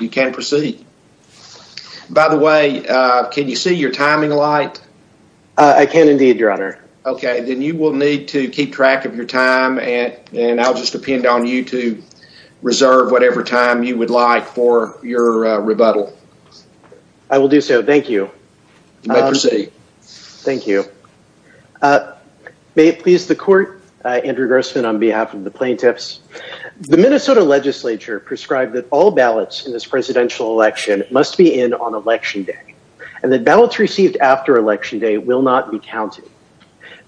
You can proceed. By the way, can you see your timing light? I can indeed, your honor. Okay, then you will need to keep track of your time and I'll just depend on you to reserve whatever time you would like for your rebuttal. I will do so, thank you. You may proceed. Thank you. May it please the court, Andrew Grossman on behalf of the plaintiffs, the Minnesota legislature prescribed that all ballots in this presidential election must be in on election day and that ballots received after election day will not be counted.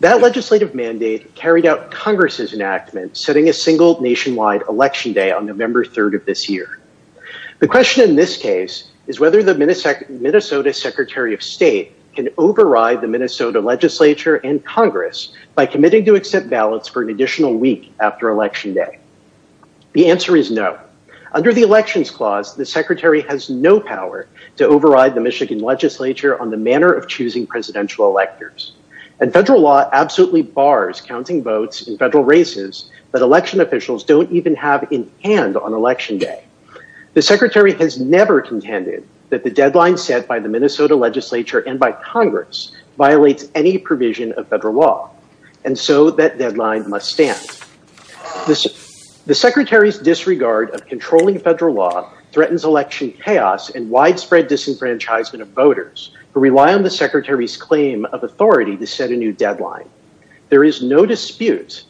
That legislative mandate carried out Congress's enactment setting a single nationwide election day on November 3rd of this year. The question in this case is whether the Minnesota Secretary of State can override the Minnesota legislature and Congress by committing to accept ballots for additional week after election day. The answer is no. Under the elections clause, the secretary has no power to override the Michigan legislature on the manner of choosing presidential electors and federal law absolutely bars counting votes in federal races that election officials don't even have in hand on election day. The secretary has never contended that the deadline set by the Minnesota legislature and by Congress violates any provision of federal law and so that deadline must stand. The secretary's disregard of controlling federal law threatens election chaos and widespread disenfranchisement of voters who rely on the secretary's claim of authority to set a new deadline. There is no dispute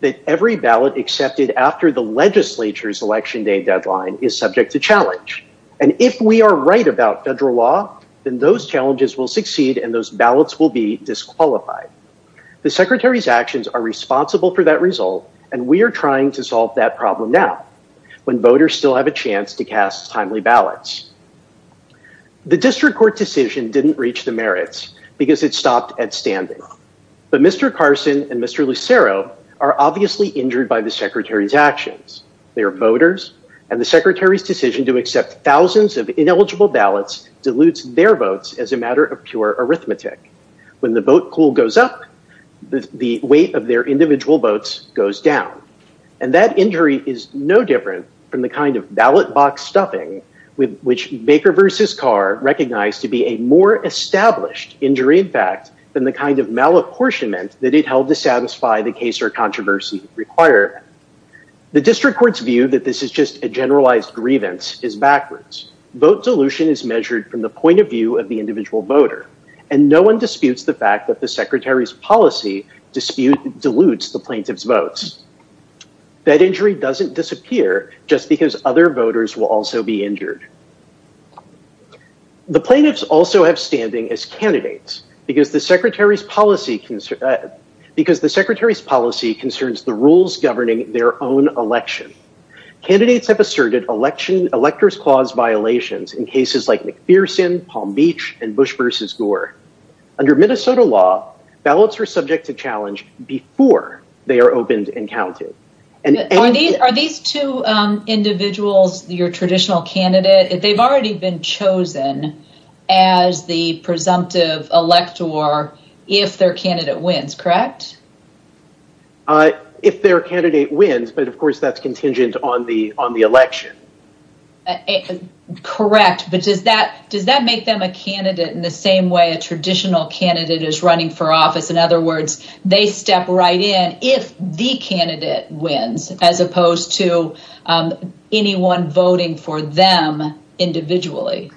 that every ballot accepted after the legislature's election day deadline is subject to challenge and if we are right about federal law then those challenges will succeed and those ballots will be disqualified. The secretary's actions are responsible for that result and we are trying to solve that problem now when voters still have a chance to cast timely ballots. The district court decision didn't reach the merits because it stopped at standing but Mr. Carson and Mr. Lucero are obviously injured by the secretary's actions. They are voters and the secretary's decision to accept thousands of ineligible ballots dilutes their votes as a matter of pure arithmetic. When the vote pool goes up the weight of their individual votes goes down and that injury is no different from the kind of ballot box stuffing with which Baker v. Carr recognized to be a more established injury in fact than the kind of malapportionment that it held to satisfy the case or controversy required. The district court's view that this is just a generalized grievance is backwards. Vote dilution is measured from the point of view of the individual voter and no one disputes the fact that the secretary's policy dilutes the plaintiff's votes. That injury doesn't disappear just because other voters will also be injured. The plaintiffs also have standing as candidates because the secretary's policy concerns the rules governing their own election. Candidates have asserted electors clause violations in cases like McPherson, Palm Beach, and Bush v. Gore. Under Minnesota law ballots are subject to challenge before they are opened and counted. Are these two individuals your traditional candidate? They've already been chosen as the presumptive elector if their candidate wins, correct? If their candidate wins, but of course that's contingent on the election. Correct, but does that make them a candidate in the same way a traditional candidate is running for office? In other words, they step right in if the candidate wins as opposed to anyone voting for them individually.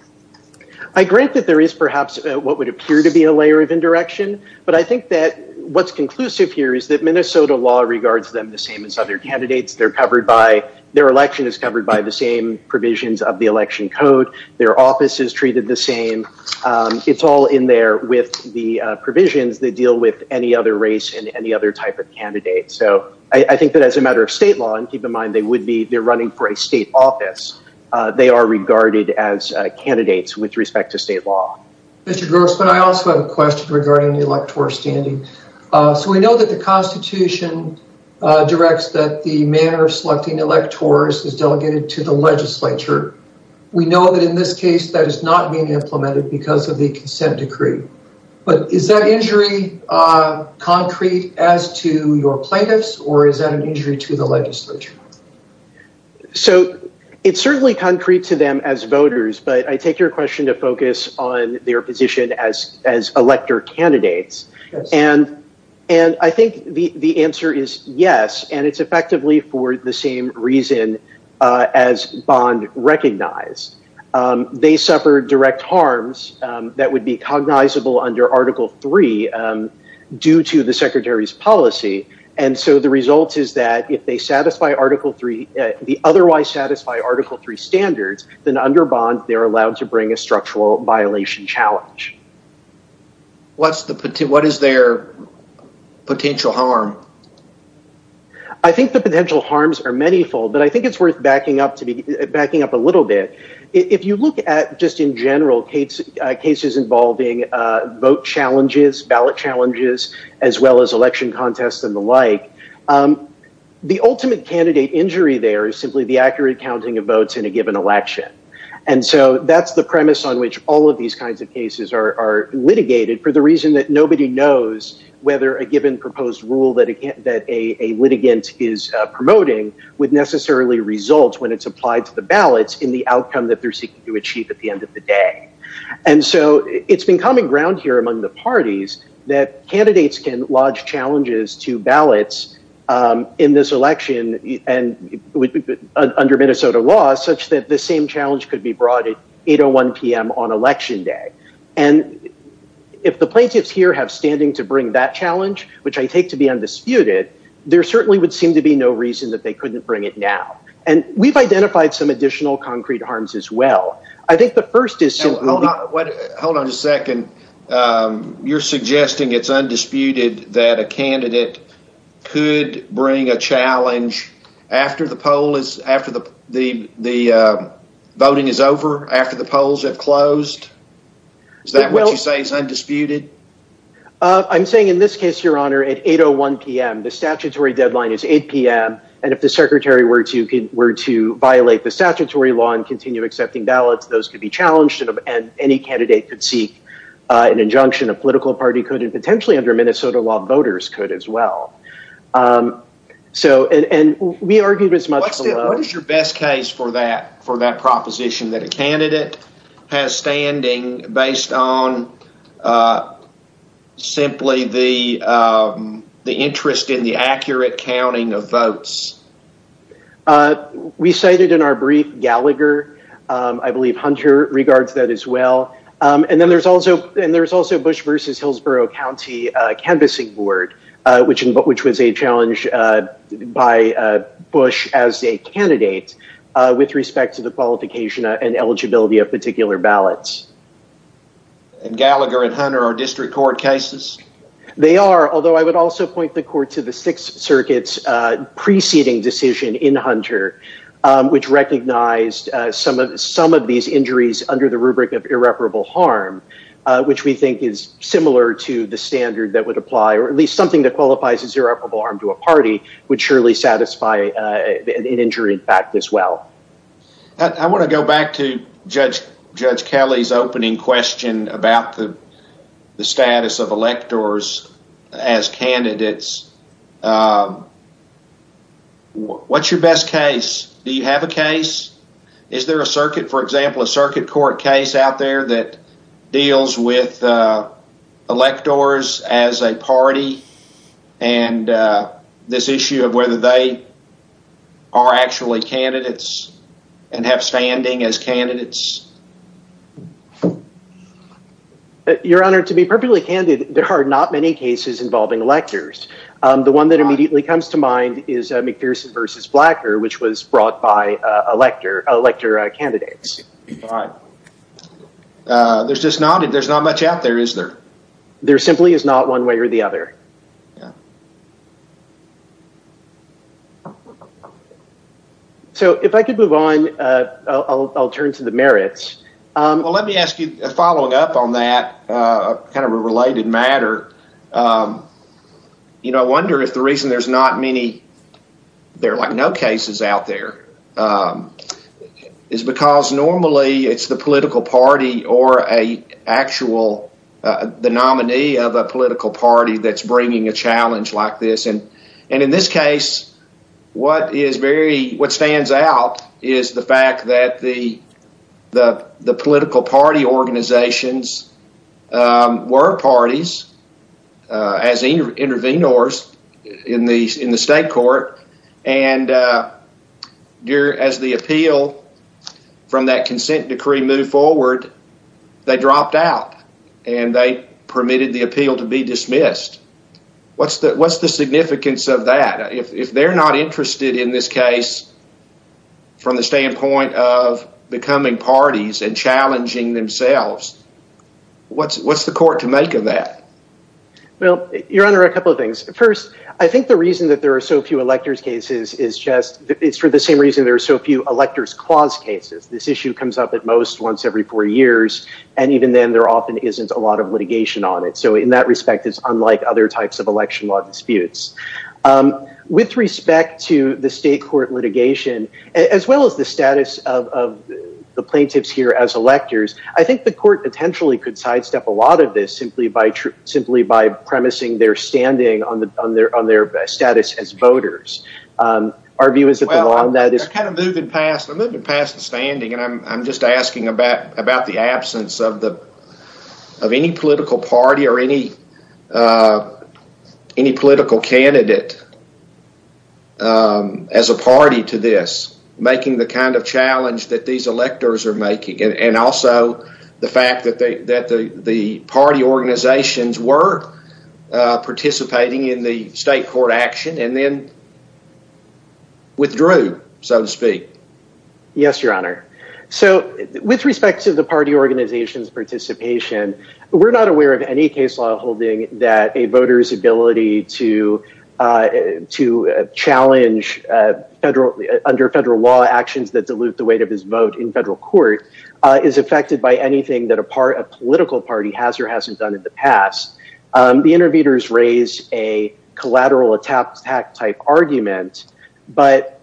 I grant that there is perhaps what would appear to be a layer of indirection, but I think that what's conclusive here is that Minnesota law regards them the same as other candidates. Their election is covered by the same provisions of the election code. Their office is treated the same. It's all in there with the provisions that deal with any other race and any other type of candidate. So I think that as a matter of state law, and keep in mind they would be running for a state office, they are regarded as electors standing. So we know that the constitution directs that the manner of selecting electors is delegated to the legislature. We know that in this case, that is not being implemented because of the consent decree. But is that injury concrete as to your plaintiffs or is that an injury to the legislature? So it's certainly concrete to them as voters, but I take your question to focus on their position as elector candidates. And I think the answer is yes, and it's effectively for the same reason as Bond recognized. They suffered direct harms that would be cognizable under Article 3 due to the Secretary's policy. And so the result is that if they satisfy Article 3, the otherwise satisfy Article 3 standards, then under Bond, they're allowed to bring a structural violation challenge. What is their potential harm? I think the potential harms are many fold, but I think it's worth backing up a little bit. If you look at just in general cases involving vote challenges, ballot challenges, as well as election contests and the like, the ultimate candidate injury there is simply the accurate all of these kinds of cases are litigated for the reason that nobody knows whether a given proposed rule that a litigant is promoting would necessarily result when it's applied to the ballots in the outcome that they're seeking to achieve at the end of the day. And so it's been common ground here among the parties that candidates can lodge challenges to ballots in this election and under Minnesota law such that the same challenge could be brought at 8.01 on election day. And if the plaintiffs here have standing to bring that challenge, which I take to be undisputed, there certainly would seem to be no reason that they couldn't bring it now. And we've identified some additional concrete harms as well. I think the first is... Hold on a second. You're suggesting it's undisputed that a candidate could bring a closed? Is that what you say is undisputed? I'm saying in this case, your honor, at 8.01 PM, the statutory deadline is 8 PM. And if the secretary were to violate the statutory law and continue accepting ballots, those could be challenged and any candidate could seek an injunction. A political party could and potentially under Minnesota law, voters could as well. So, and we argued as much... What is your best case for that proposition that a candidate has standing based on simply the interest in the accurate counting of votes? We cited in our brief Gallagher, I believe Hunter regards that as well. And then there's also Bush versus Hillsborough County canvassing board, which was a challenge by Bush as a candidate with respect to the qualification and eligibility of particular ballots. And Gallagher and Hunter are district court cases? They are, although I would also point the court to the Sixth Circuit's preceding decision in Hunter, which recognized some of these injuries under the rubric of irreparable harm, which we think is similar to the standard that would apply, or at least something that qualifies as irreparable harm to a party would surely satisfy an injury in fact as well. I want to go back to Judge Kelly's opening question about the status of electors as candidates. What's your best case? Do you have a case? Is there a circuit, for example, a circuit court case out there that deals with electors as a party and this issue of whether they are actually candidates and have standing as candidates? Your Honor, to be perfectly candid, there are not many cases involving electors. The one that immediately comes to mind is McPherson versus Blacker, which was brought by elector candidates. There's just not, there's not much out there, is there? There simply is not one way or the other. So, if I could move on, I'll turn to the merits. Well, let me ask you, following up on that, kind of a related matter, you know, I wonder if the reason there's not many, there are like no cases out there, is because normally it's the political party or a actual, the nominee of a political party that's bringing a challenge like this. And in this case, what is very, what stands out is the fact that the political party organizations were parties as intervenors in the state court. And as the appeal from that consent decree moved forward, they dropped out and they permitted the appeal to be dismissed. What's the significance of that? If they're not interested in this case from the standpoint of becoming parties and challenging themselves, what's the court to make of that? Well, Your Honor, a couple of things. First, I think the reason that there are so few electors' cases is just, it's for the same reason there are so few electors' clause cases. This issue comes up at most once every four years, and even then there often isn't a lot of litigation on it. So, in that respect, it's unlike other types of election law disputes. With respect to the state court litigation, as well as the status of the plaintiffs here as electors, I think the court potentially could sidestep a lot of this simply by premising their standing on their status as voters. Our view is that the law on that is— I'm kind of moving past the standing, and I'm just asking about the absence of any political party or any political candidate as a party to this, making the kind of challenge that these electors are participating in the state court action, and then withdrew, so to speak. Yes, Your Honor. So, with respect to the party organization's participation, we're not aware of any case law holding that a voter's ability to challenge under federal law actions that dilute the weight of his vote in federal court is affected by anything that a political party has or hasn't done in the past. The interviewers raise a collateral attack type argument, but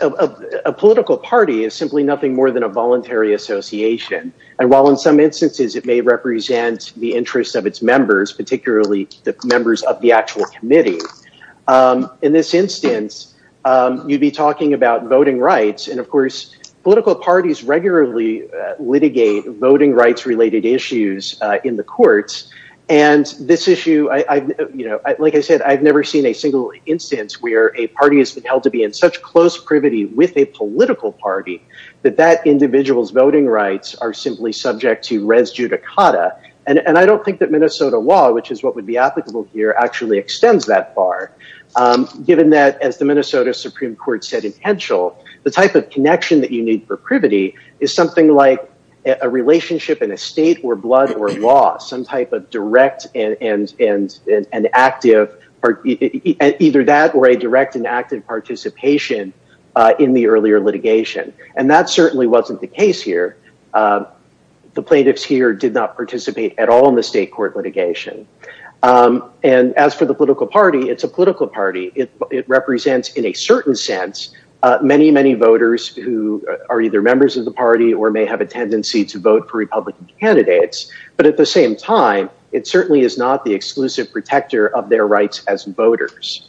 a political party is simply nothing more than a voluntary association, and while in some instances it may represent the interest of its members, particularly the members of the actual committee, in this instance, you'd be litigating voting rights-related issues in the courts, and this issue—like I said, I've never seen a single instance where a party has been held to be in such close privity with a political party that that individual's voting rights are simply subject to res judicata, and I don't think that Minnesota law, which is what would be applicable here, actually extends that far, given that, as the Minnesota Supreme Court said in Henschel, the type of connection that you need for privity is something like a relationship in a state or blood or law, some type of direct and active—either that or a direct and active participation in the earlier litigation, and that certainly wasn't the case here. The plaintiffs here did not participate at all in the state court litigation, and as for the political party, it's a political party. It represents, in a certain sense, many, many voters who are either members of the party or may have a tendency to vote for Republican candidates, but at the same time, it certainly is not the exclusive protector of their rights as voters,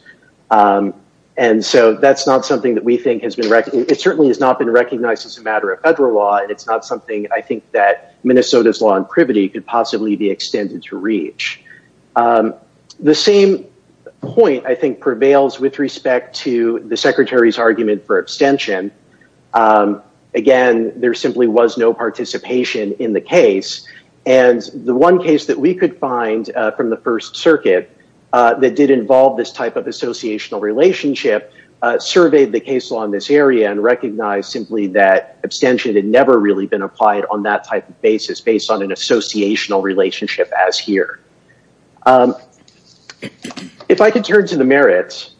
and so that's not something that we think has been—it certainly has not been recognized as a matter of federal law, and it's not something I think that Minnesota's law and privity could possibly be extended to reach. The same point, I think, prevails with respect to the Secretary's for abstention. Again, there simply was no participation in the case, and the one case that we could find from the First Circuit that did involve this type of associational relationship surveyed the case law in this area and recognized simply that abstention had never really been applied on that type of basis based on an associational relationship as here. If I could turn to the merits,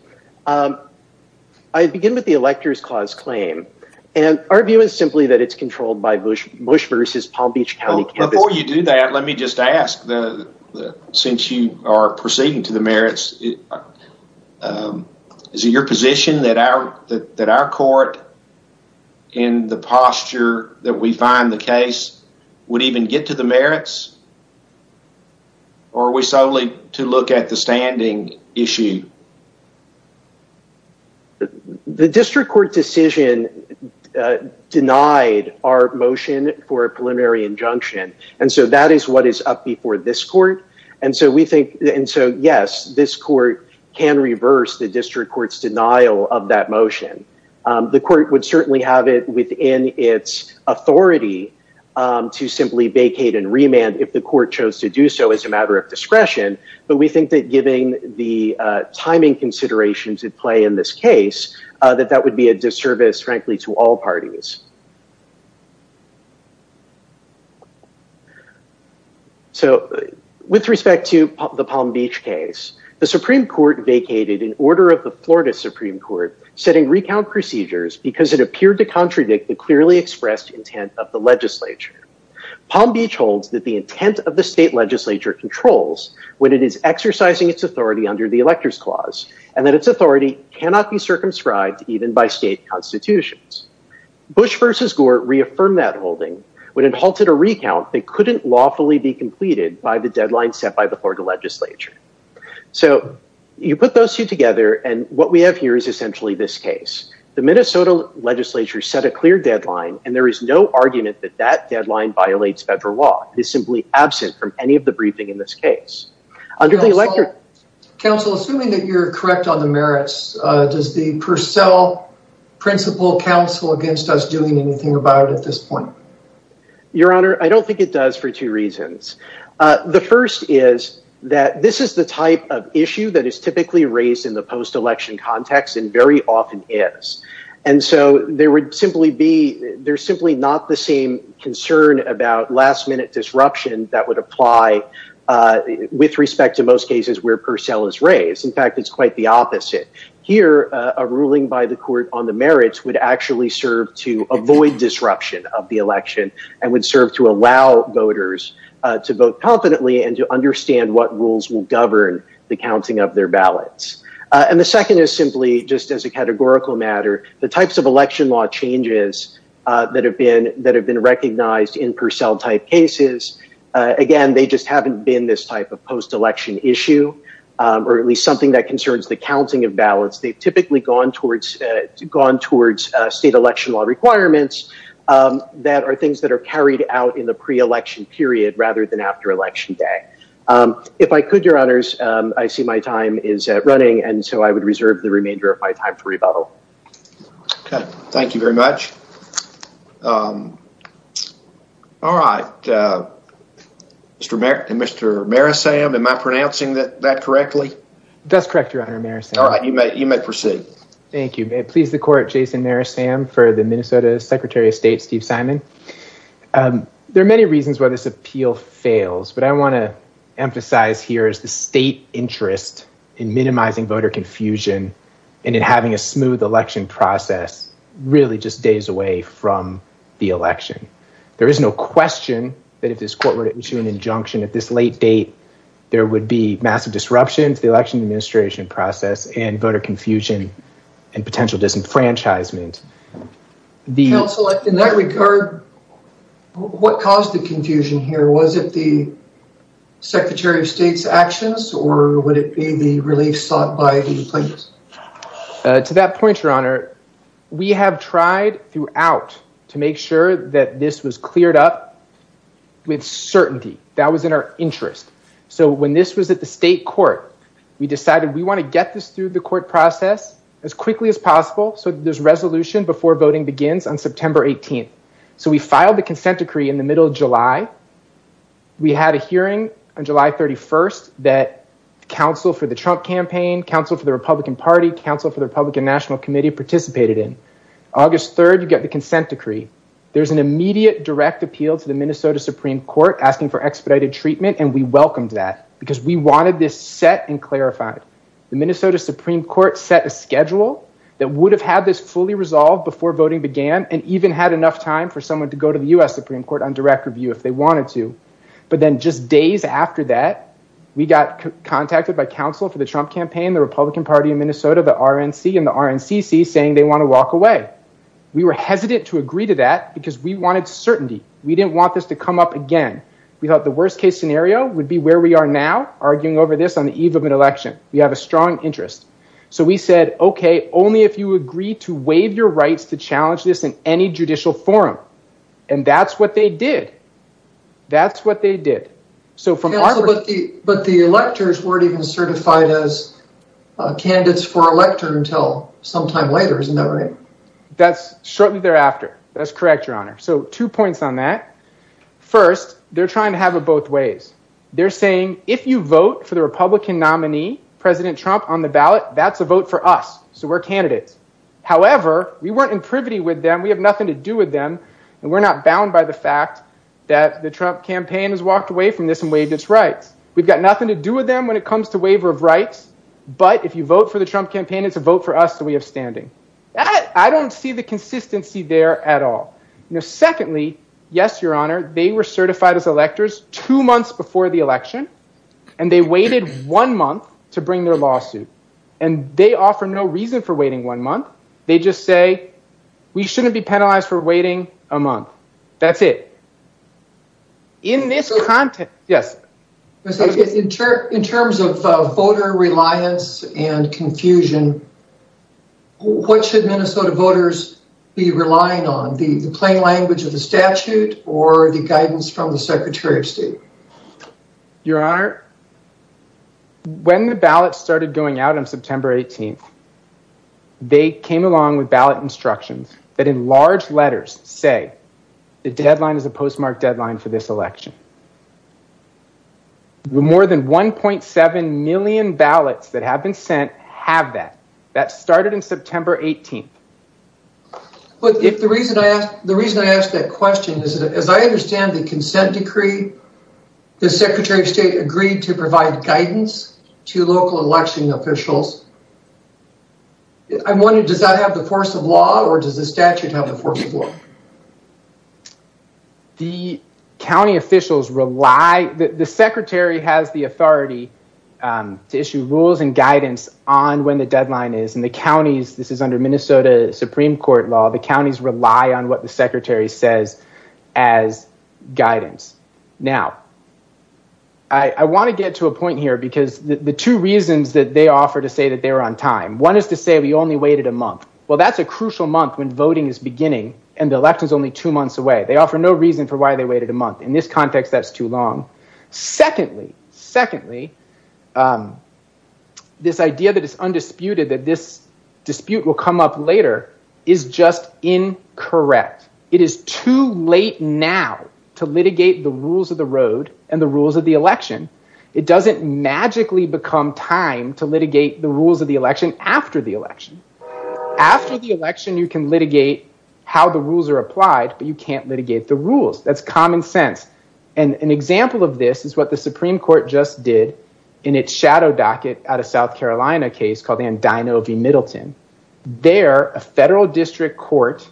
I'd begin with the Elector's Clause claim, and our view is simply that it's controlled by Bush v. Palm Beach County. Before you do that, let me just ask, since you are proceeding to the merits, is it your position that our court in the posture that we find the case would even get to the merits? Or are we solely to look at the standing issue? The district court decision denied our motion for a preliminary injunction, and so that is what is up before this court, and so we think—and so, yes, this court can reverse the district court's denial of that motion. The court would certainly have it within its authority to simply vacate and remand if the court chose to do so as a matter of discretion, but we think that giving the timing considerations at play in this case, that that would be a disservice, frankly, to all parties. So, with respect to the Palm Beach case, the Supreme Court vacated an order of the Florida Supreme Court setting recount procedures because it appeared to contradict the clearly expressed intent of the legislature. Palm Beach holds that the intent of the state legislature controls when it is exercising its authority under the Elector's Clause, and that its authority cannot be circumscribed even by state constitutions. Bush v. Gore reaffirmed that holding. When it halted a recount, they couldn't lawfully be completed by the deadline set by the Florida legislature. So, you put those two together, and what we have here is essentially this case. The Minnesota legislature set a clear deadline, and there is no argument that that deadline violates federal law. It is simply absent from any of the briefing in this case. Counsel, assuming that you're correct on the merits, does the Purcell principle counsel against us doing anything about it at this point? Your Honor, I don't think it does for two reasons. The first is that this is the type of issue that often is. There is simply not the same concern about last-minute disruption that would apply with respect to most cases where Purcell is raised. In fact, it is quite the opposite. Here, a ruling by the court on the merits would actually serve to avoid disruption of the election and would serve to allow voters to vote confidently and to understand what rules will govern the counting of their ballots. And the second is simply, just as a categorical matter, the types of election law changes that have been recognized in Purcell-type cases, again, they just haven't been this type of post-election issue, or at least something that concerns the counting of ballots. They've typically gone towards state election law requirements that are things that are carried out in the pre-election period rather than after election day. If I could, Your Honors, I see my time is running, and so I would reserve the remainder of my time for rebuttal. Okay. Thank you very much. All right. Mr. Marisam, am I pronouncing that correctly? That's correct, Your Honor, Marisam. All right. You may proceed. Thank you. May it please the court, Jason Marisam for the Minnesota Secretary of State Steve Simon. There are many reasons why this appeal fails, but I want to emphasize here is the state interest in minimizing voter confusion and in having a smooth election process really just days away from the election. There is no question that if this court were to issue an injunction at this late date, there would be massive disruptions to the election administration process and voter confusion and potential disenfranchisement. Counsel, in that regard, what caused the confusion here? Was it the Secretary of State's actions, or would it be the relief sought by the plaintiffs? To that point, Your Honor, we have tried throughout to make sure that this was cleared up with certainty. That was in our interest. So when this was at the state court, we decided we want to get this through the court process as quickly as possible so there's resolution before voting begins on September 18th. So we filed the consent decree in the middle of July. We had a hearing on July 31st that counsel for the Trump campaign, counsel for the Republican Party, counsel for the Republican National Committee participated in. August 3rd, you get the consent decree. There's an immediate direct appeal to the Minnesota Supreme Court asking for expedited Minnesota Supreme Court set a schedule that would have had this fully resolved before voting began and even had enough time for someone to go to the U.S. Supreme Court on direct review if they wanted to. But then just days after that, we got contacted by counsel for the Trump campaign, the Republican Party in Minnesota, the RNC, and the RNCC saying they want to walk away. We were hesitant to agree to that because we wanted certainty. We didn't want this to come up again. We thought the worst case scenario would be where we are now arguing over this on the eve of an election. We have a strong interest. So we said, okay, only if you agree to waive your rights to challenge this in any judicial forum. And that's what they did. That's what they did. But the electors weren't even certified as candidates for elector until sometime later, isn't that right? That's shortly thereafter. That's correct, your honor. So two points on that. First, they're trying to have it They're saying if you vote for the Republican nominee, President Trump, on the ballot, that's a vote for us. So we're candidates. However, we weren't in privity with them. We have nothing to do with them. And we're not bound by the fact that the Trump campaign has walked away from this and waived its rights. We've got nothing to do with them when it comes to waiver of rights. But if you vote for the Trump campaign, it's a vote for us that we have standing. I don't see the months before the election. And they waited one month to bring their lawsuit. And they offer no reason for waiting one month. They just say, we shouldn't be penalized for waiting a month. That's it. In this context, yes. In terms of voter reliance and confusion, what should Minnesota voters be relying on the plain language of the statute or the guidance from the Secretary of State? Your Honor, when the ballots started going out on September 18th, they came along with ballot instructions that in large letters say the deadline is a postmark deadline for this election. More than 1.7 million ballots that have been sent have that. That started on September 18th. But the reason I ask that question is that as I understand the consent decree, the Secretary of State agreed to provide guidance to local election officials. I'm wondering, does that have the force of law or does the statute have the force of law? The county officials rely, the Secretary has the authority to issue rules and guidance on when the deadline is. And the counties, this is under Minnesota Supreme Court law, the counties rely on what the Secretary says as guidance. Now, I want to get to a point here because the two reasons that they offer to say that they're on time, one is to say we only waited a month. Well, that's a crucial month when voting is beginning and the election is only two months away. They offer no reason for why they waited a month. In this context, that's too long. Secondly, this idea that it's undisputed that this dispute will come up later is just incorrect. It is too late now to litigate the rules of the road and the rules of the election. It doesn't magically become time to litigate the rules of the election after the election. After the election, you can litigate how the rules are applied, but you can't litigate the rules. That's common sense. And an example of this is what the Supreme Court just did in its shadow docket out of South Carolina case called the Andino v. Middleton. There, a federal district court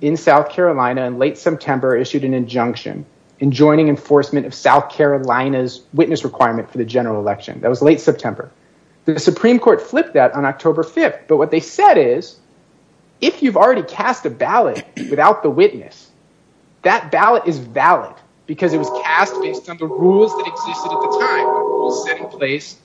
in South Carolina in late September issued an injunction enjoining enforcement of South Carolina's witness requirement for the general election. That was late September. The Supreme Court flipped that on October 5th. But what they said is, if you've already cast a ballot without the witness, that ballot is valid because it was cast based on the rules that existed at the time, the rules set in place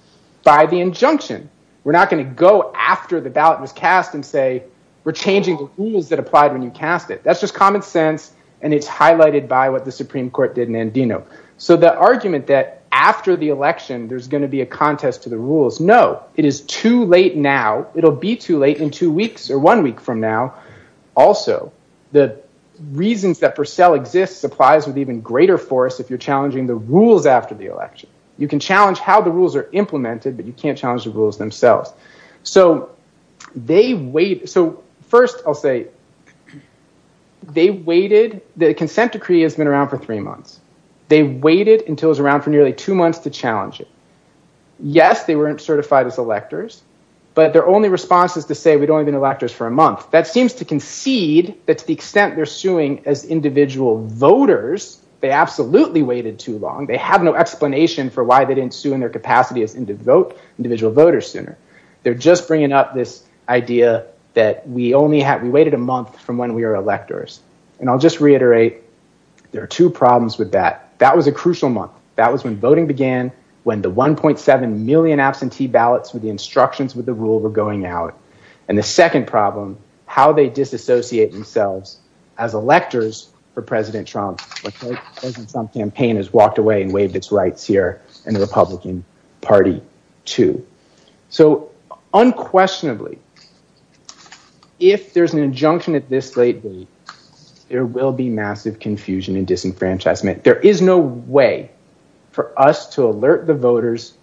by the injunction. We're not going to go after the ballot was cast and say, we're changing the rules that applied when you cast it. That's just common sense. And it's highlighted by what the Supreme Court did in Andino. So the argument that after the election, there's going to be a contest to the rules. No, it is too late now. It'll be too late in two weeks or one week from now. Also, the reasons that Purcell exists applies with even greater force if you're challenging the rules after the election. You can challenge how the rules are implemented, but you can't challenge the rules themselves. So they wait. So first I'll say they waited. The consent decree has been around for three months. They waited until it was around for nearly two months to challenge it. Yes, they weren't certified as electors, but their only response is to say we'd only been electors for a month. That seems to concede that to the extent they're suing as individual voters, they absolutely waited too long. They have no explanation for why they didn't sue in their capacity as individual voters sooner. They're just bringing up this idea that we waited a month from when we were electors. And I'll just reiterate, there are two problems with that. That was a crucial month. That was when voting began, when the 1.7 million absentee ballots with the instructions with the rule were going out. And the second problem, how they disassociate themselves as electors for President Trump. President Trump's campaign has walked away and waived its rights here in the Republican Party too. So unquestionably, if there's an injunction at this late date, there will be the voters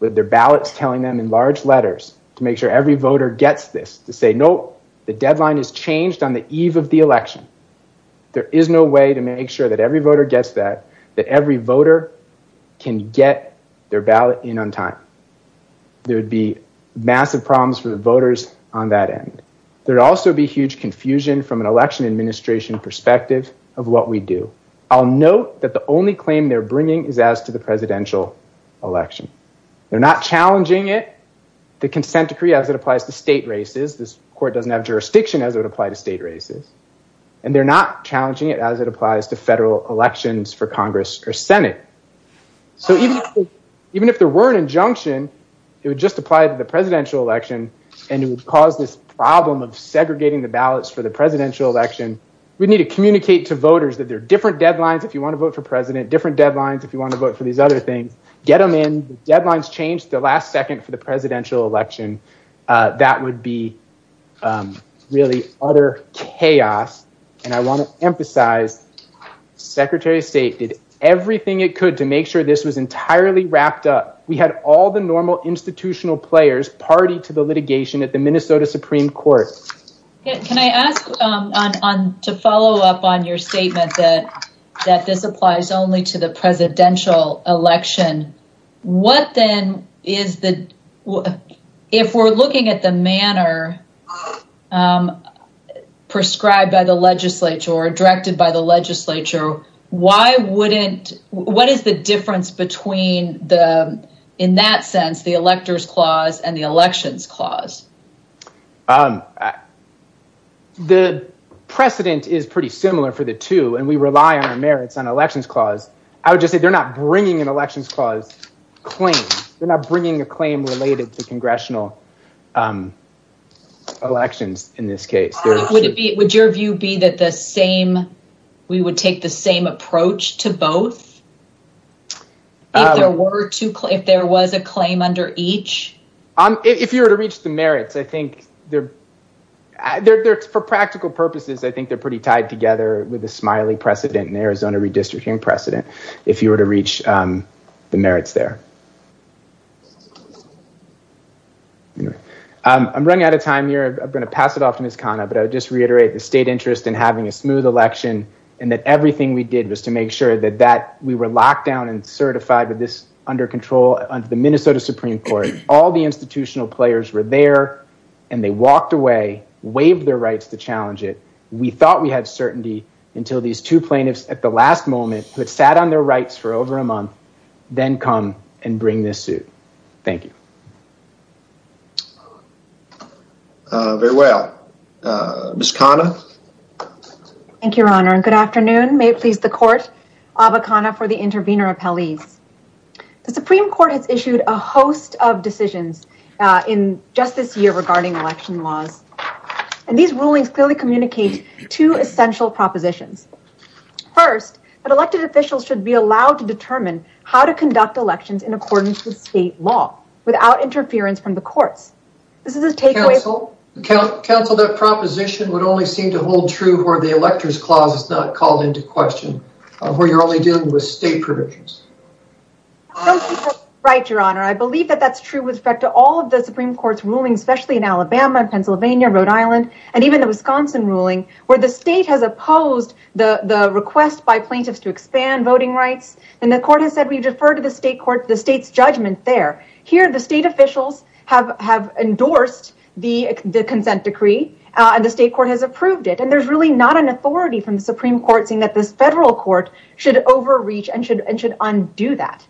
with their ballots telling them in large letters to make sure every voter gets this, to say, no, the deadline is changed on the eve of the election. There is no way to make sure that every voter gets that, that every voter can get their ballot in on time. There'd be massive problems for the voters on that end. There'd also be huge confusion from an election administration perspective of what we do. I'll note that the only claim they're bringing is as to the presidential election. They're not challenging it, the consent decree as it applies to state races. This court doesn't have jurisdiction as it would apply to state races. And they're not challenging it as it applies to federal elections for Congress or Senate. So even if there were an injunction, it would just apply to the presidential election and it would cause this problem of segregating the ballots for the presidential election. We need to communicate to voters that there are different deadlines. If you want to vote for president, different deadlines, if you want to vote for these other things, get them in. Deadlines changed the last second for the presidential election. That would be really other chaos. And I want to emphasize secretary of state did everything it could to make sure this was entirely wrapped up. We had all the normal players party to the litigation at the Minnesota Supreme Court. Can I ask to follow up on your statement that this applies only to the presidential election? If we're looking at the manner prescribed by the legislature or directed by the legislature, why wouldn't, what is the difference between the, in that sense, the electors clause and the elections clause? The precedent is pretty similar for the two and we rely on our merits on elections clause. I would just say they're not bringing an elections clause claim. They're not bringing a claim related to congressional elections in this case. Would your view be that the same, we would take the same approach to both? If there was a claim under each? If you were to reach the merits, I think for practical purposes, I think they're pretty tied together with the Smiley precedent and Arizona redistricting precedent. If you were to reach the merits there. I'm running out of time here. I'm going to pass it off to Ms. Khanna, but I would just reiterate the state interest in having a smooth election and that everything we did was to make sure that we were locked down and certified with this under control under the Minnesota Supreme Court. All the institutional players were there and they walked away, waived their rights to challenge it. We thought we had certainty until these two plaintiffs at the last moment who had sat on their rights for over a very long time. Ms. Khanna. Thank you, your honor. Good afternoon. May it please the court, Aba Khanna for the intervener appellees. The Supreme Court has issued a host of decisions in just this year regarding election laws and these rulings clearly communicate two essential propositions. First, that elected officials should be allowed to determine how to conduct elections in accordance with state law without interference from the courts. This is a takeaway. Counsel, that proposition would only seem to hold true where the electors clause is not called into question, where you're only dealing with state provisions. Right, your honor. I believe that that's true with respect to all of the Supreme Court's rulings, especially in Alabama, Pennsylvania, Rhode Island, and even the Wisconsin ruling, where the state has opposed the request by plaintiffs to expand voting rights. And the court has said we defer to the state court, the state's judgment there. Here, the state officials have endorsed the consent decree, and the state court has approved it, and there's really not an authority from the Supreme Court saying that this federal court should overreach and should undo that.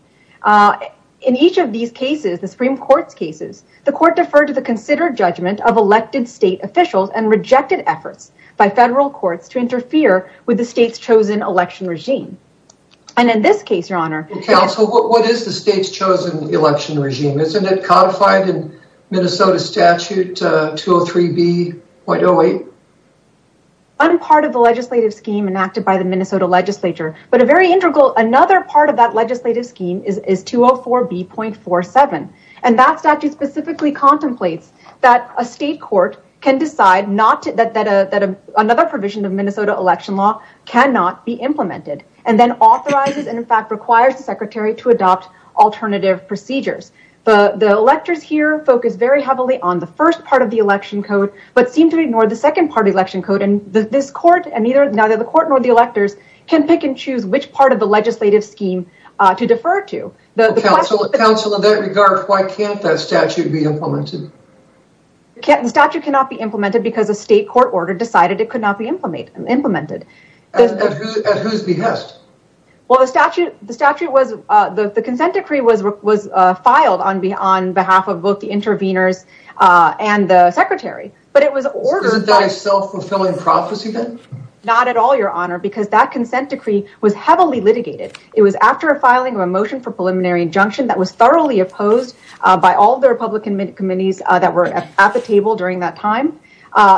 In each of these cases, the Supreme Court's cases, the court deferred to the considered judgment of elected state officials and rejected efforts by federal courts to interfere with the state's chosen election regime. And in this case, what is the state's chosen election regime? Isn't it codified in Minnesota statute 203b.08? Unpart of the legislative scheme enacted by the Minnesota legislature, but a very integral, another part of that legislative scheme is 204b.47. And that statute specifically contemplates that a state court can decide that another provision of Minnesota election law cannot be implemented, and then authorizes and in fact requires the secretary to adopt alternative procedures. The electors here focus very heavily on the first part of the election code, but seem to ignore the second part of the election code, and this court, and neither the court nor the electors can pick and choose which part of the legislative scheme to defer to. Counsel, in that regard, why can't that statute be implemented? The statute cannot be implemented because a state court order decided it could not be implemented. At whose behest? Well, the statute, the statute was, the consent decree was filed on behalf of both the interveners and the secretary, but it was ordered by- Isn't that a self-fulfilling prophecy then? Not at all, your honor, because that consent decree was heavily litigated. It was after a filing of a motion for preliminary injunction that was thoroughly opposed by all the Republican committees that were at the table during that time.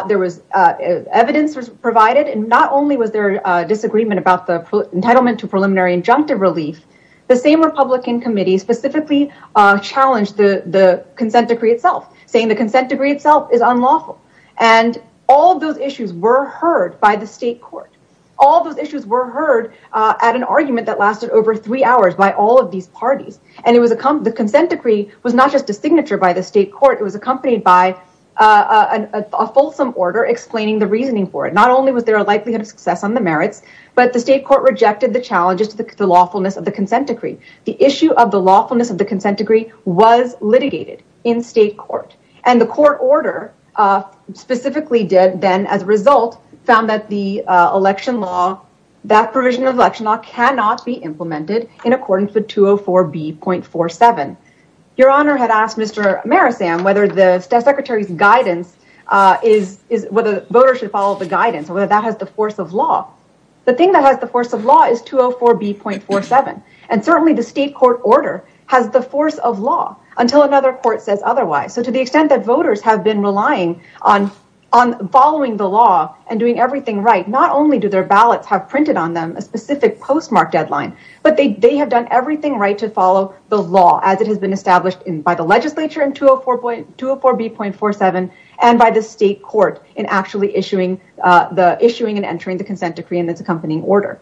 There was evidence was provided, and not only was there a disagreement about the entitlement to preliminary injunctive relief, the same Republican committee specifically challenged the consent decree itself, saying the consent decree itself is unlawful, and all those issues were heard by the state court. All those issues were heard at an argument that lasted over three hours by all of these parties, and it was- The consent decree was not just a signature by the state court. It was accompanied by a fulsome order explaining the reasoning for it. Not only was there a likelihood of success on the merits, but the state court rejected the challenges to the lawfulness of the consent decree. The issue of the lawfulness of the consent decree was litigated in state court, and the court order specifically then, as a result, found that the election law, that provision of election law cannot be implemented in accordance with 204B.47. Your honor had asked Mr. Marisam whether the secretary's guidance is- whether voters should follow the guidance or whether that has the force of law. The thing that has the force of law is 204B.47, and certainly the state court order has the force of law until another court says otherwise. So to the extent that voters have been relying on following the law and doing everything right, not only do their ballots have printed on them a specific postmark deadline, but they have done everything right to follow the law as it has been established by the legislature in 204B.47 and by the state court in actually issuing the- issuing and entering the consent decree and its accompanying order.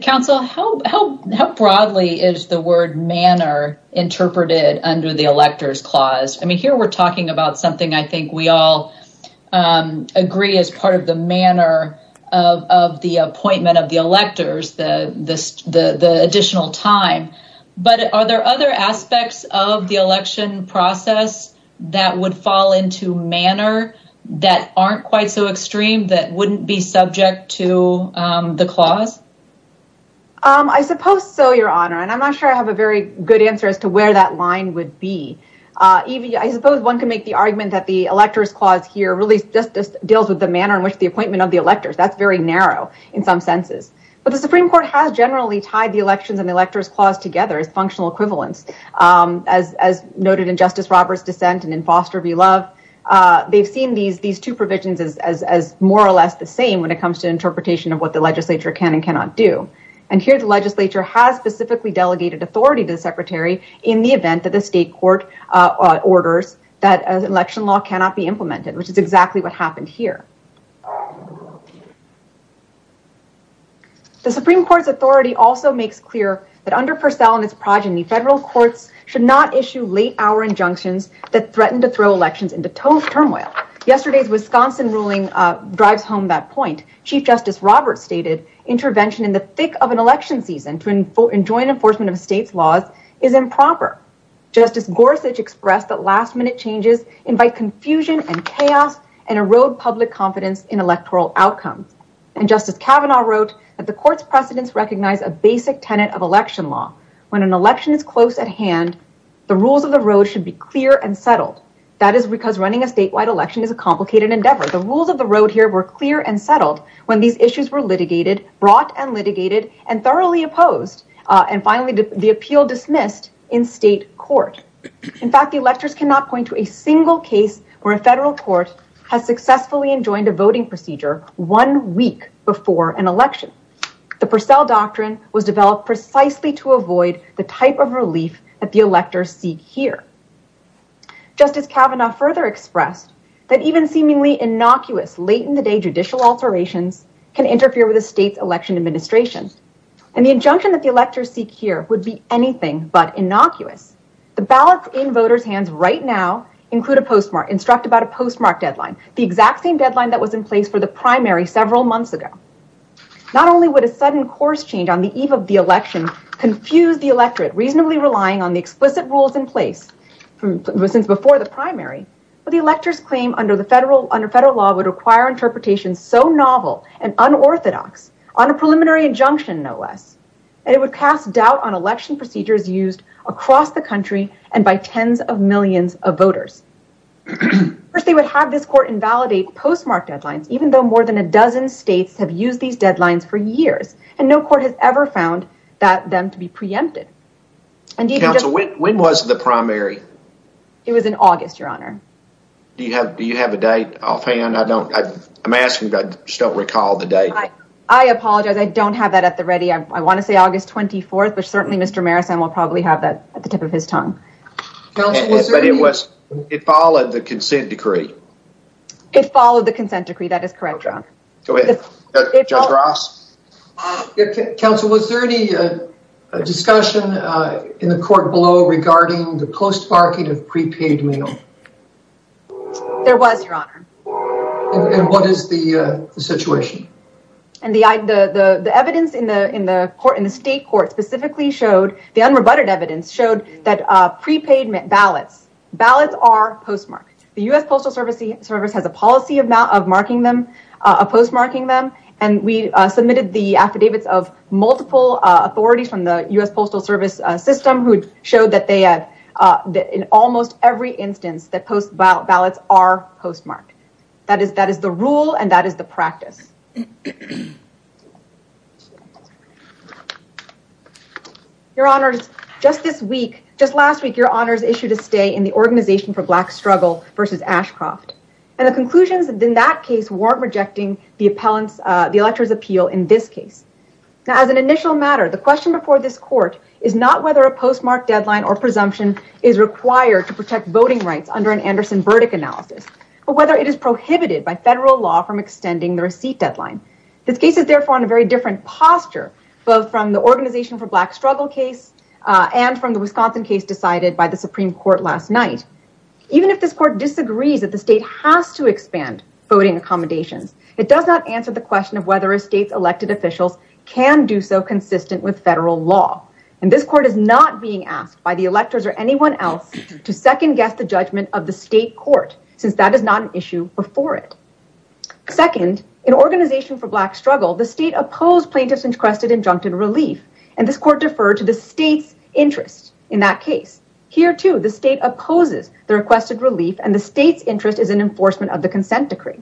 Counsel, how broadly is the word manner interpreted under the electors clause? I mean here we're talking about something I think we all agree as part of the manner of the appointment of the electors, the additional time, but are there other aspects of the election process that would fall into manner that aren't quite so extreme that wouldn't be subject to the clause? I suppose so, your honor, and I'm not sure I have a very good answer as to where that line would be. I suppose one could make the argument that the electors clause here really just deals with the manner in which the appointment of the electors, that's very narrow in some senses, but the supreme court has generally tied the elections and the electors clause together as functional equivalents. As noted in Justice Roberts' dissent and in Foster v. Love, they've seen these two provisions as more or less the same when it comes to interpretation of what the legislature can and cannot do, and here the legislature has specifically delegated authority to the secretary in the event that the state court orders that election law cannot be implemented, which is exactly what happened here. The supreme court's authority also makes clear that under Purcell and his progeny, federal courts should not issue late hour injunctions that threaten to throw elections into turmoil. Yesterday's Wisconsin ruling drives home that point. Chief Justice Roberts stated, intervention in the thick of an election season to enjoin enforcement of a state's laws is improper. Justice Gorsuch expressed that last minute changes invite confusion and chaos and erode public confidence in electoral outcomes, and Justice Kavanaugh wrote that the court's precedents recognize a basic tenet of election law. When an election is close at hand, the rules of the road should be clear and settled. That is because running a statewide election is a complicated endeavor. The rules of the road here were clear and settled when these issues were litigated, brought and litigated, and thoroughly opposed, and finally, the appeal dismissed in state court. In fact, the electors cannot point to a single case where a federal court has successfully enjoined a voting procedure one week before an election. The Purcell doctrine was developed precisely to avoid the type of relief that the electors seek here. Justice Kavanaugh further expressed that even seemingly innocuous late-in-the-day judicial alterations can interfere with a state's election administration, and the injunction that the electors seek here would be anything but innocuous. The ballots in voters' hands right now include a postmark, instruct about a postmark deadline, the exact same deadline that was in place for the primary several months ago. Not only would a sudden course change on the eve of the election confuse the electorate, relying on the explicit rules in place since before the primary, but the electors claim under federal law would require interpretations so novel and unorthodox on a preliminary injunction, no less, and it would cast doubt on election procedures used across the country and by tens of millions of voters. First, they would have this court invalidate postmark deadlines, even though more than a dozen states have used these deadlines for years, and no court has ever them to be preempted. When was the primary? It was in August, Your Honor. Do you have a date offhand? I don't, I'm asking, but I just don't recall the date. I apologize. I don't have that at the ready. I want to say August 24th, but certainly Mr. Marrison will probably have that at the tip of his tongue. But it was, it followed the consent decree. It followed the consent decree. Is there any discussion in the court below regarding the postmarking of prepaid mail? There was, Your Honor. And what is the situation? And the evidence in the state court specifically showed, the unrebutted evidence, showed that prepaid ballots, ballots are postmarked. The U.S. Postal Service has a policy of marking them, of postmarking them, and we submitted the authorities from the U.S. Postal Service system who showed that they had, in almost every instance, that post ballots are postmarked. That is the rule and that is the practice. Your Honors, just this week, just last week, Your Honors issued a stay in the Organization for Black Struggle versus Ashcroft. And the conclusions in that case weren't rejecting the appellant's, the elector's appeal in this case. Now, as an initial matter, the question before this court is not whether a postmarked deadline or presumption is required to protect voting rights under an Anderson-Burdick analysis, but whether it is prohibited by federal law from extending the receipt deadline. This case is therefore in a very different posture, both from the Organization for Black Struggle case and from the Wisconsin case decided by the Supreme Court last night. Even if this court disagrees that the state has to expand voting accommodations, it does not answer the question of whether a state's elected officials can do so consistent with federal law. And this court is not being asked by the electors or anyone else to second guess the judgment of the state court, since that is not an issue before it. Second, in Organization for Black Struggle, the state opposed plaintiffs' requested injuncted relief. And this court deferred to the state's interest in that case. Here, too, the state opposes the requested relief and the state's interest is in enforcement of the consent decree.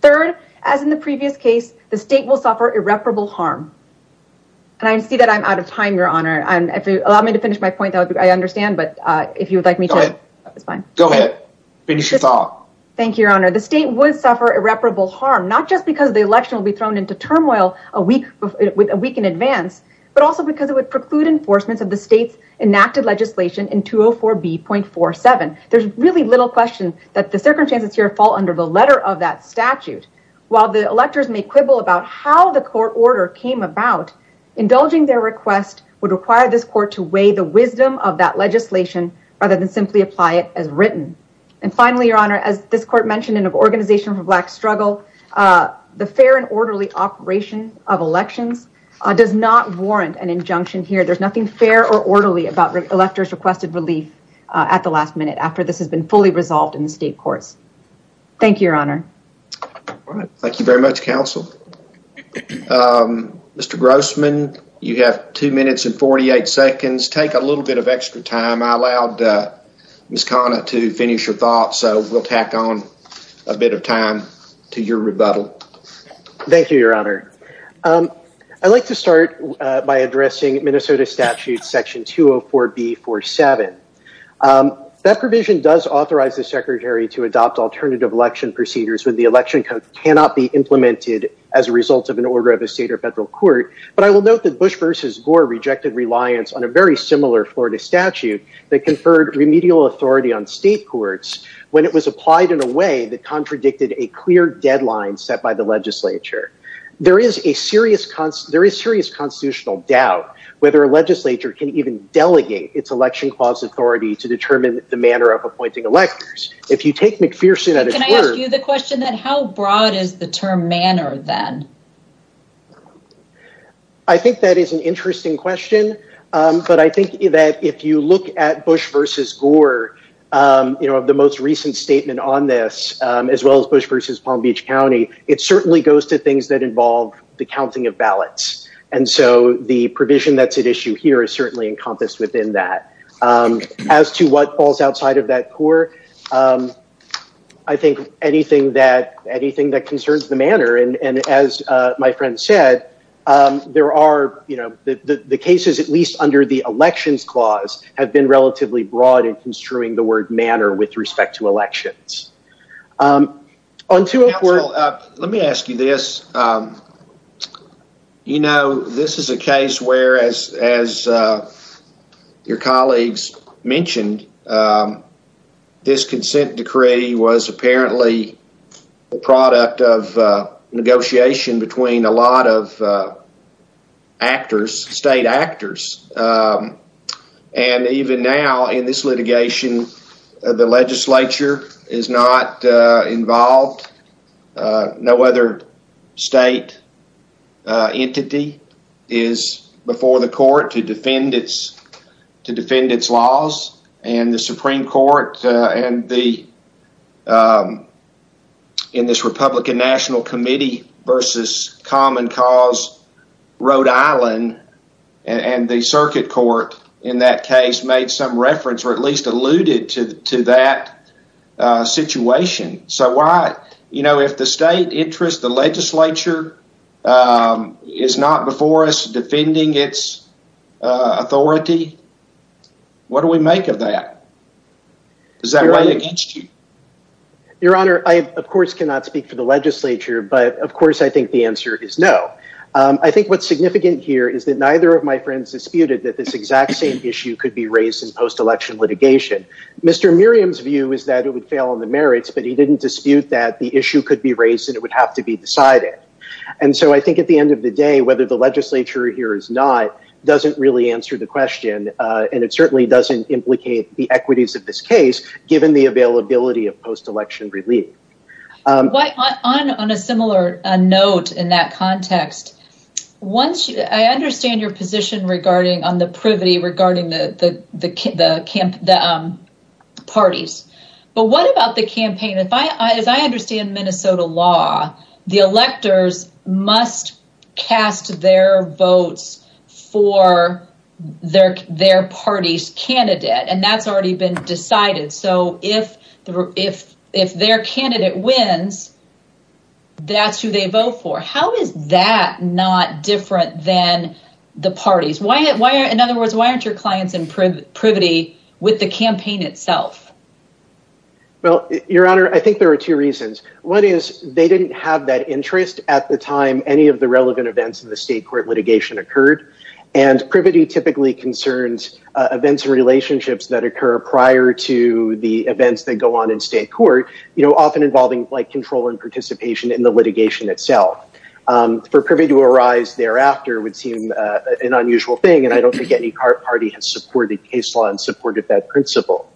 Third, as in the previous case, the state will suffer irreparable harm. And I see that I'm out of time, Your Honor, and if you allow me to finish my point, I understand, but if you would like me to, it's fine. Go ahead. Finish your thought. Thank you, Your Honor. The state would suffer irreparable harm, not just because the election will be thrown into turmoil a week in advance, but also because it would preclude enforcements of the state's enacted legislation in 204B.47. There's really little question that the circumstances here under the letter of that statute. While the electors may quibble about how the court order came about, indulging their request would require this court to weigh the wisdom of that legislation rather than simply apply it as written. And finally, Your Honor, as this court mentioned in Organization for Black Struggle, the fair and orderly operation of elections does not warrant an injunction here. There's nothing fair or orderly about electors' requested relief at the courts. Thank you, Your Honor. All right. Thank you very much, counsel. Mr. Grossman, you have two minutes and 48 seconds. Take a little bit of extra time. I allowed Ms. Khanna to finish her thoughts, so we'll tack on a bit of time to your rebuttal. Thank you, Your Honor. I'd like to start by addressing Minnesota statute section 204B47. That provision does authorize the secretary to adopt alternative election procedures when the election code cannot be implemented as a result of an order of a state or federal court. But I will note that Bush v. Gore rejected reliance on a very similar Florida statute that conferred remedial authority on state courts when it was applied in a way that contradicted a clear deadline set by the legislature. There is a serious constitutional doubt whether a legislature can delegate its election clause authority to determine the manner of appointing electors. If you take McPherson at his word... Can I ask you the question, how broad is the term manner then? I think that is an interesting question. But I think that if you look at Bush v. Gore, the most recent statement on this, as well as Bush v. Palm Beach County, it certainly goes to things that involve the counting of ballots. And so the provision that's at issue here is certainly encompassed within that. As to what falls outside of that core, I think anything that concerns the manner, and as my friend said, there are, you know, the cases at least under the elections clause have been relatively broad in construing the word manner with respect to elections. Council, let me ask you this. You know, this is a case where, as your colleagues mentioned, this consent decree was apparently a product of negotiation between a lot of involved. No other state entity is before the court to defend its laws, and the Supreme Court in this Republican National Committee v. Common Cause Rhode Island and the Circuit Court in that situation. So why, you know, if the state interest, the legislature is not before us defending its authority, what do we make of that? Does that weigh against you? Your Honor, I of course cannot speak for the legislature, but of course I think the answer is no. I think what's significant here is that neither of my friends disputed that this exact same issue could be raised in post-election litigation. Mr. Merriam's view is that it would fail on the merits, but he didn't dispute that the issue could be raised and it would have to be decided. And so I think at the end of the day, whether the legislature here is not, doesn't really answer the question, and it certainly doesn't implicate the equities of this case, given the availability of post-election relief. On a similar note in that context, once, I understand your position regarding on the privity regarding the parties, but what about the campaign? As I understand Minnesota law, the electors must cast their votes for their party's candidate, and that's already been decided. So if their candidate wins, that's who they vote for. How is that not different than the parties? In other words, why aren't your clients in privity with the campaign itself? Well, Your Honor, I think there are two reasons. One is they didn't have that interest at the time any of the relevant events in the state court litigation occurred, and privity typically concerns events and relationships that occur prior to the events that go on in state court, often involving control and participation in the litigation itself. For privy to arise thereafter would seem an unusual thing, and I don't think any party has supported case law and supported that principle.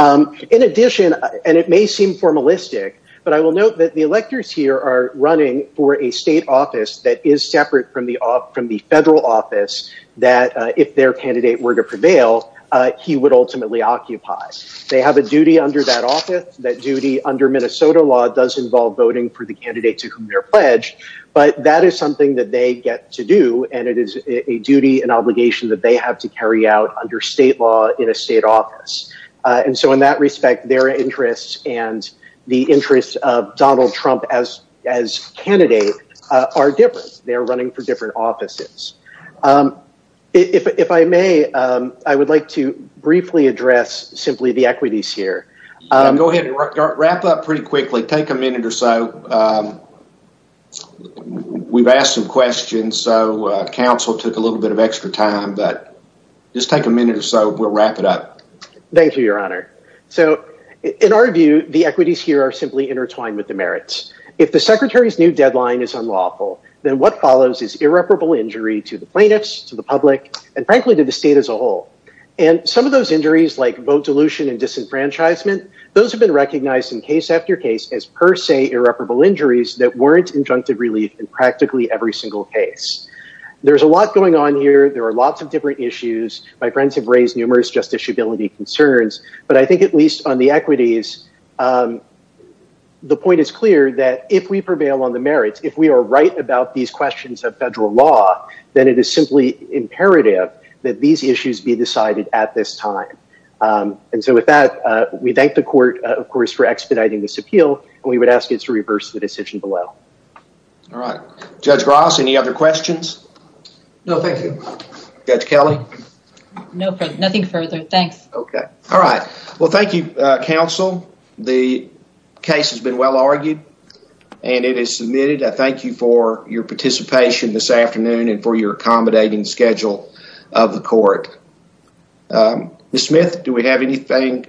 In addition, and it may seem formalistic, but I will note that the electors here are running for a state office that is separate from the federal office that, if their candidate were to prevail, he would ultimately occupy. They have a duty under that Minnesota law does involve voting for the candidate to whom they're pledged, but that is something that they get to do, and it is a duty and obligation that they have to carry out under state law in a state office. And so in that respect, their interests and the interests of Donald Trump as candidate are different. They're running for different offices. If I may, I would like to briefly address simply the equities here. Go ahead and wrap up pretty quickly. Take a minute or so. We've asked some questions, so counsel took a little bit of extra time, but just take a minute or so. We'll wrap it up. Thank you, your honor. So in our view, the equities here are simply intertwined with the merits. If the secretary's new deadline is unlawful, then what follows is irreparable injury to the plaintiffs, to the public, and frankly to the state as a whole. And some of those injuries like vote dilution and disenfranchisement, those have been recognized in case after case as per se irreparable injuries that weren't injunctive relief in practically every single case. There's a lot going on here. There are lots of different issues. My friends have raised numerous justiciability concerns, but I think at least on the equities, the point is clear that if we prevail on the merits, if we are right about these questions of federal law, then it is simply imperative that these issues be decided at this time. And so with that, we thank the court, of course, for expediting this appeal, and we would ask you to reverse the decision below. All right. Judge Ross, any other questions? No, thank you. Judge Kelly? No, nothing further. Thanks. Okay. All right. Well, thank you, counsel. The case has been well argued and it is submitted. I thank you for your participation this afternoon and for your accommodating schedule of the court. Ms. Smith, do we have anything?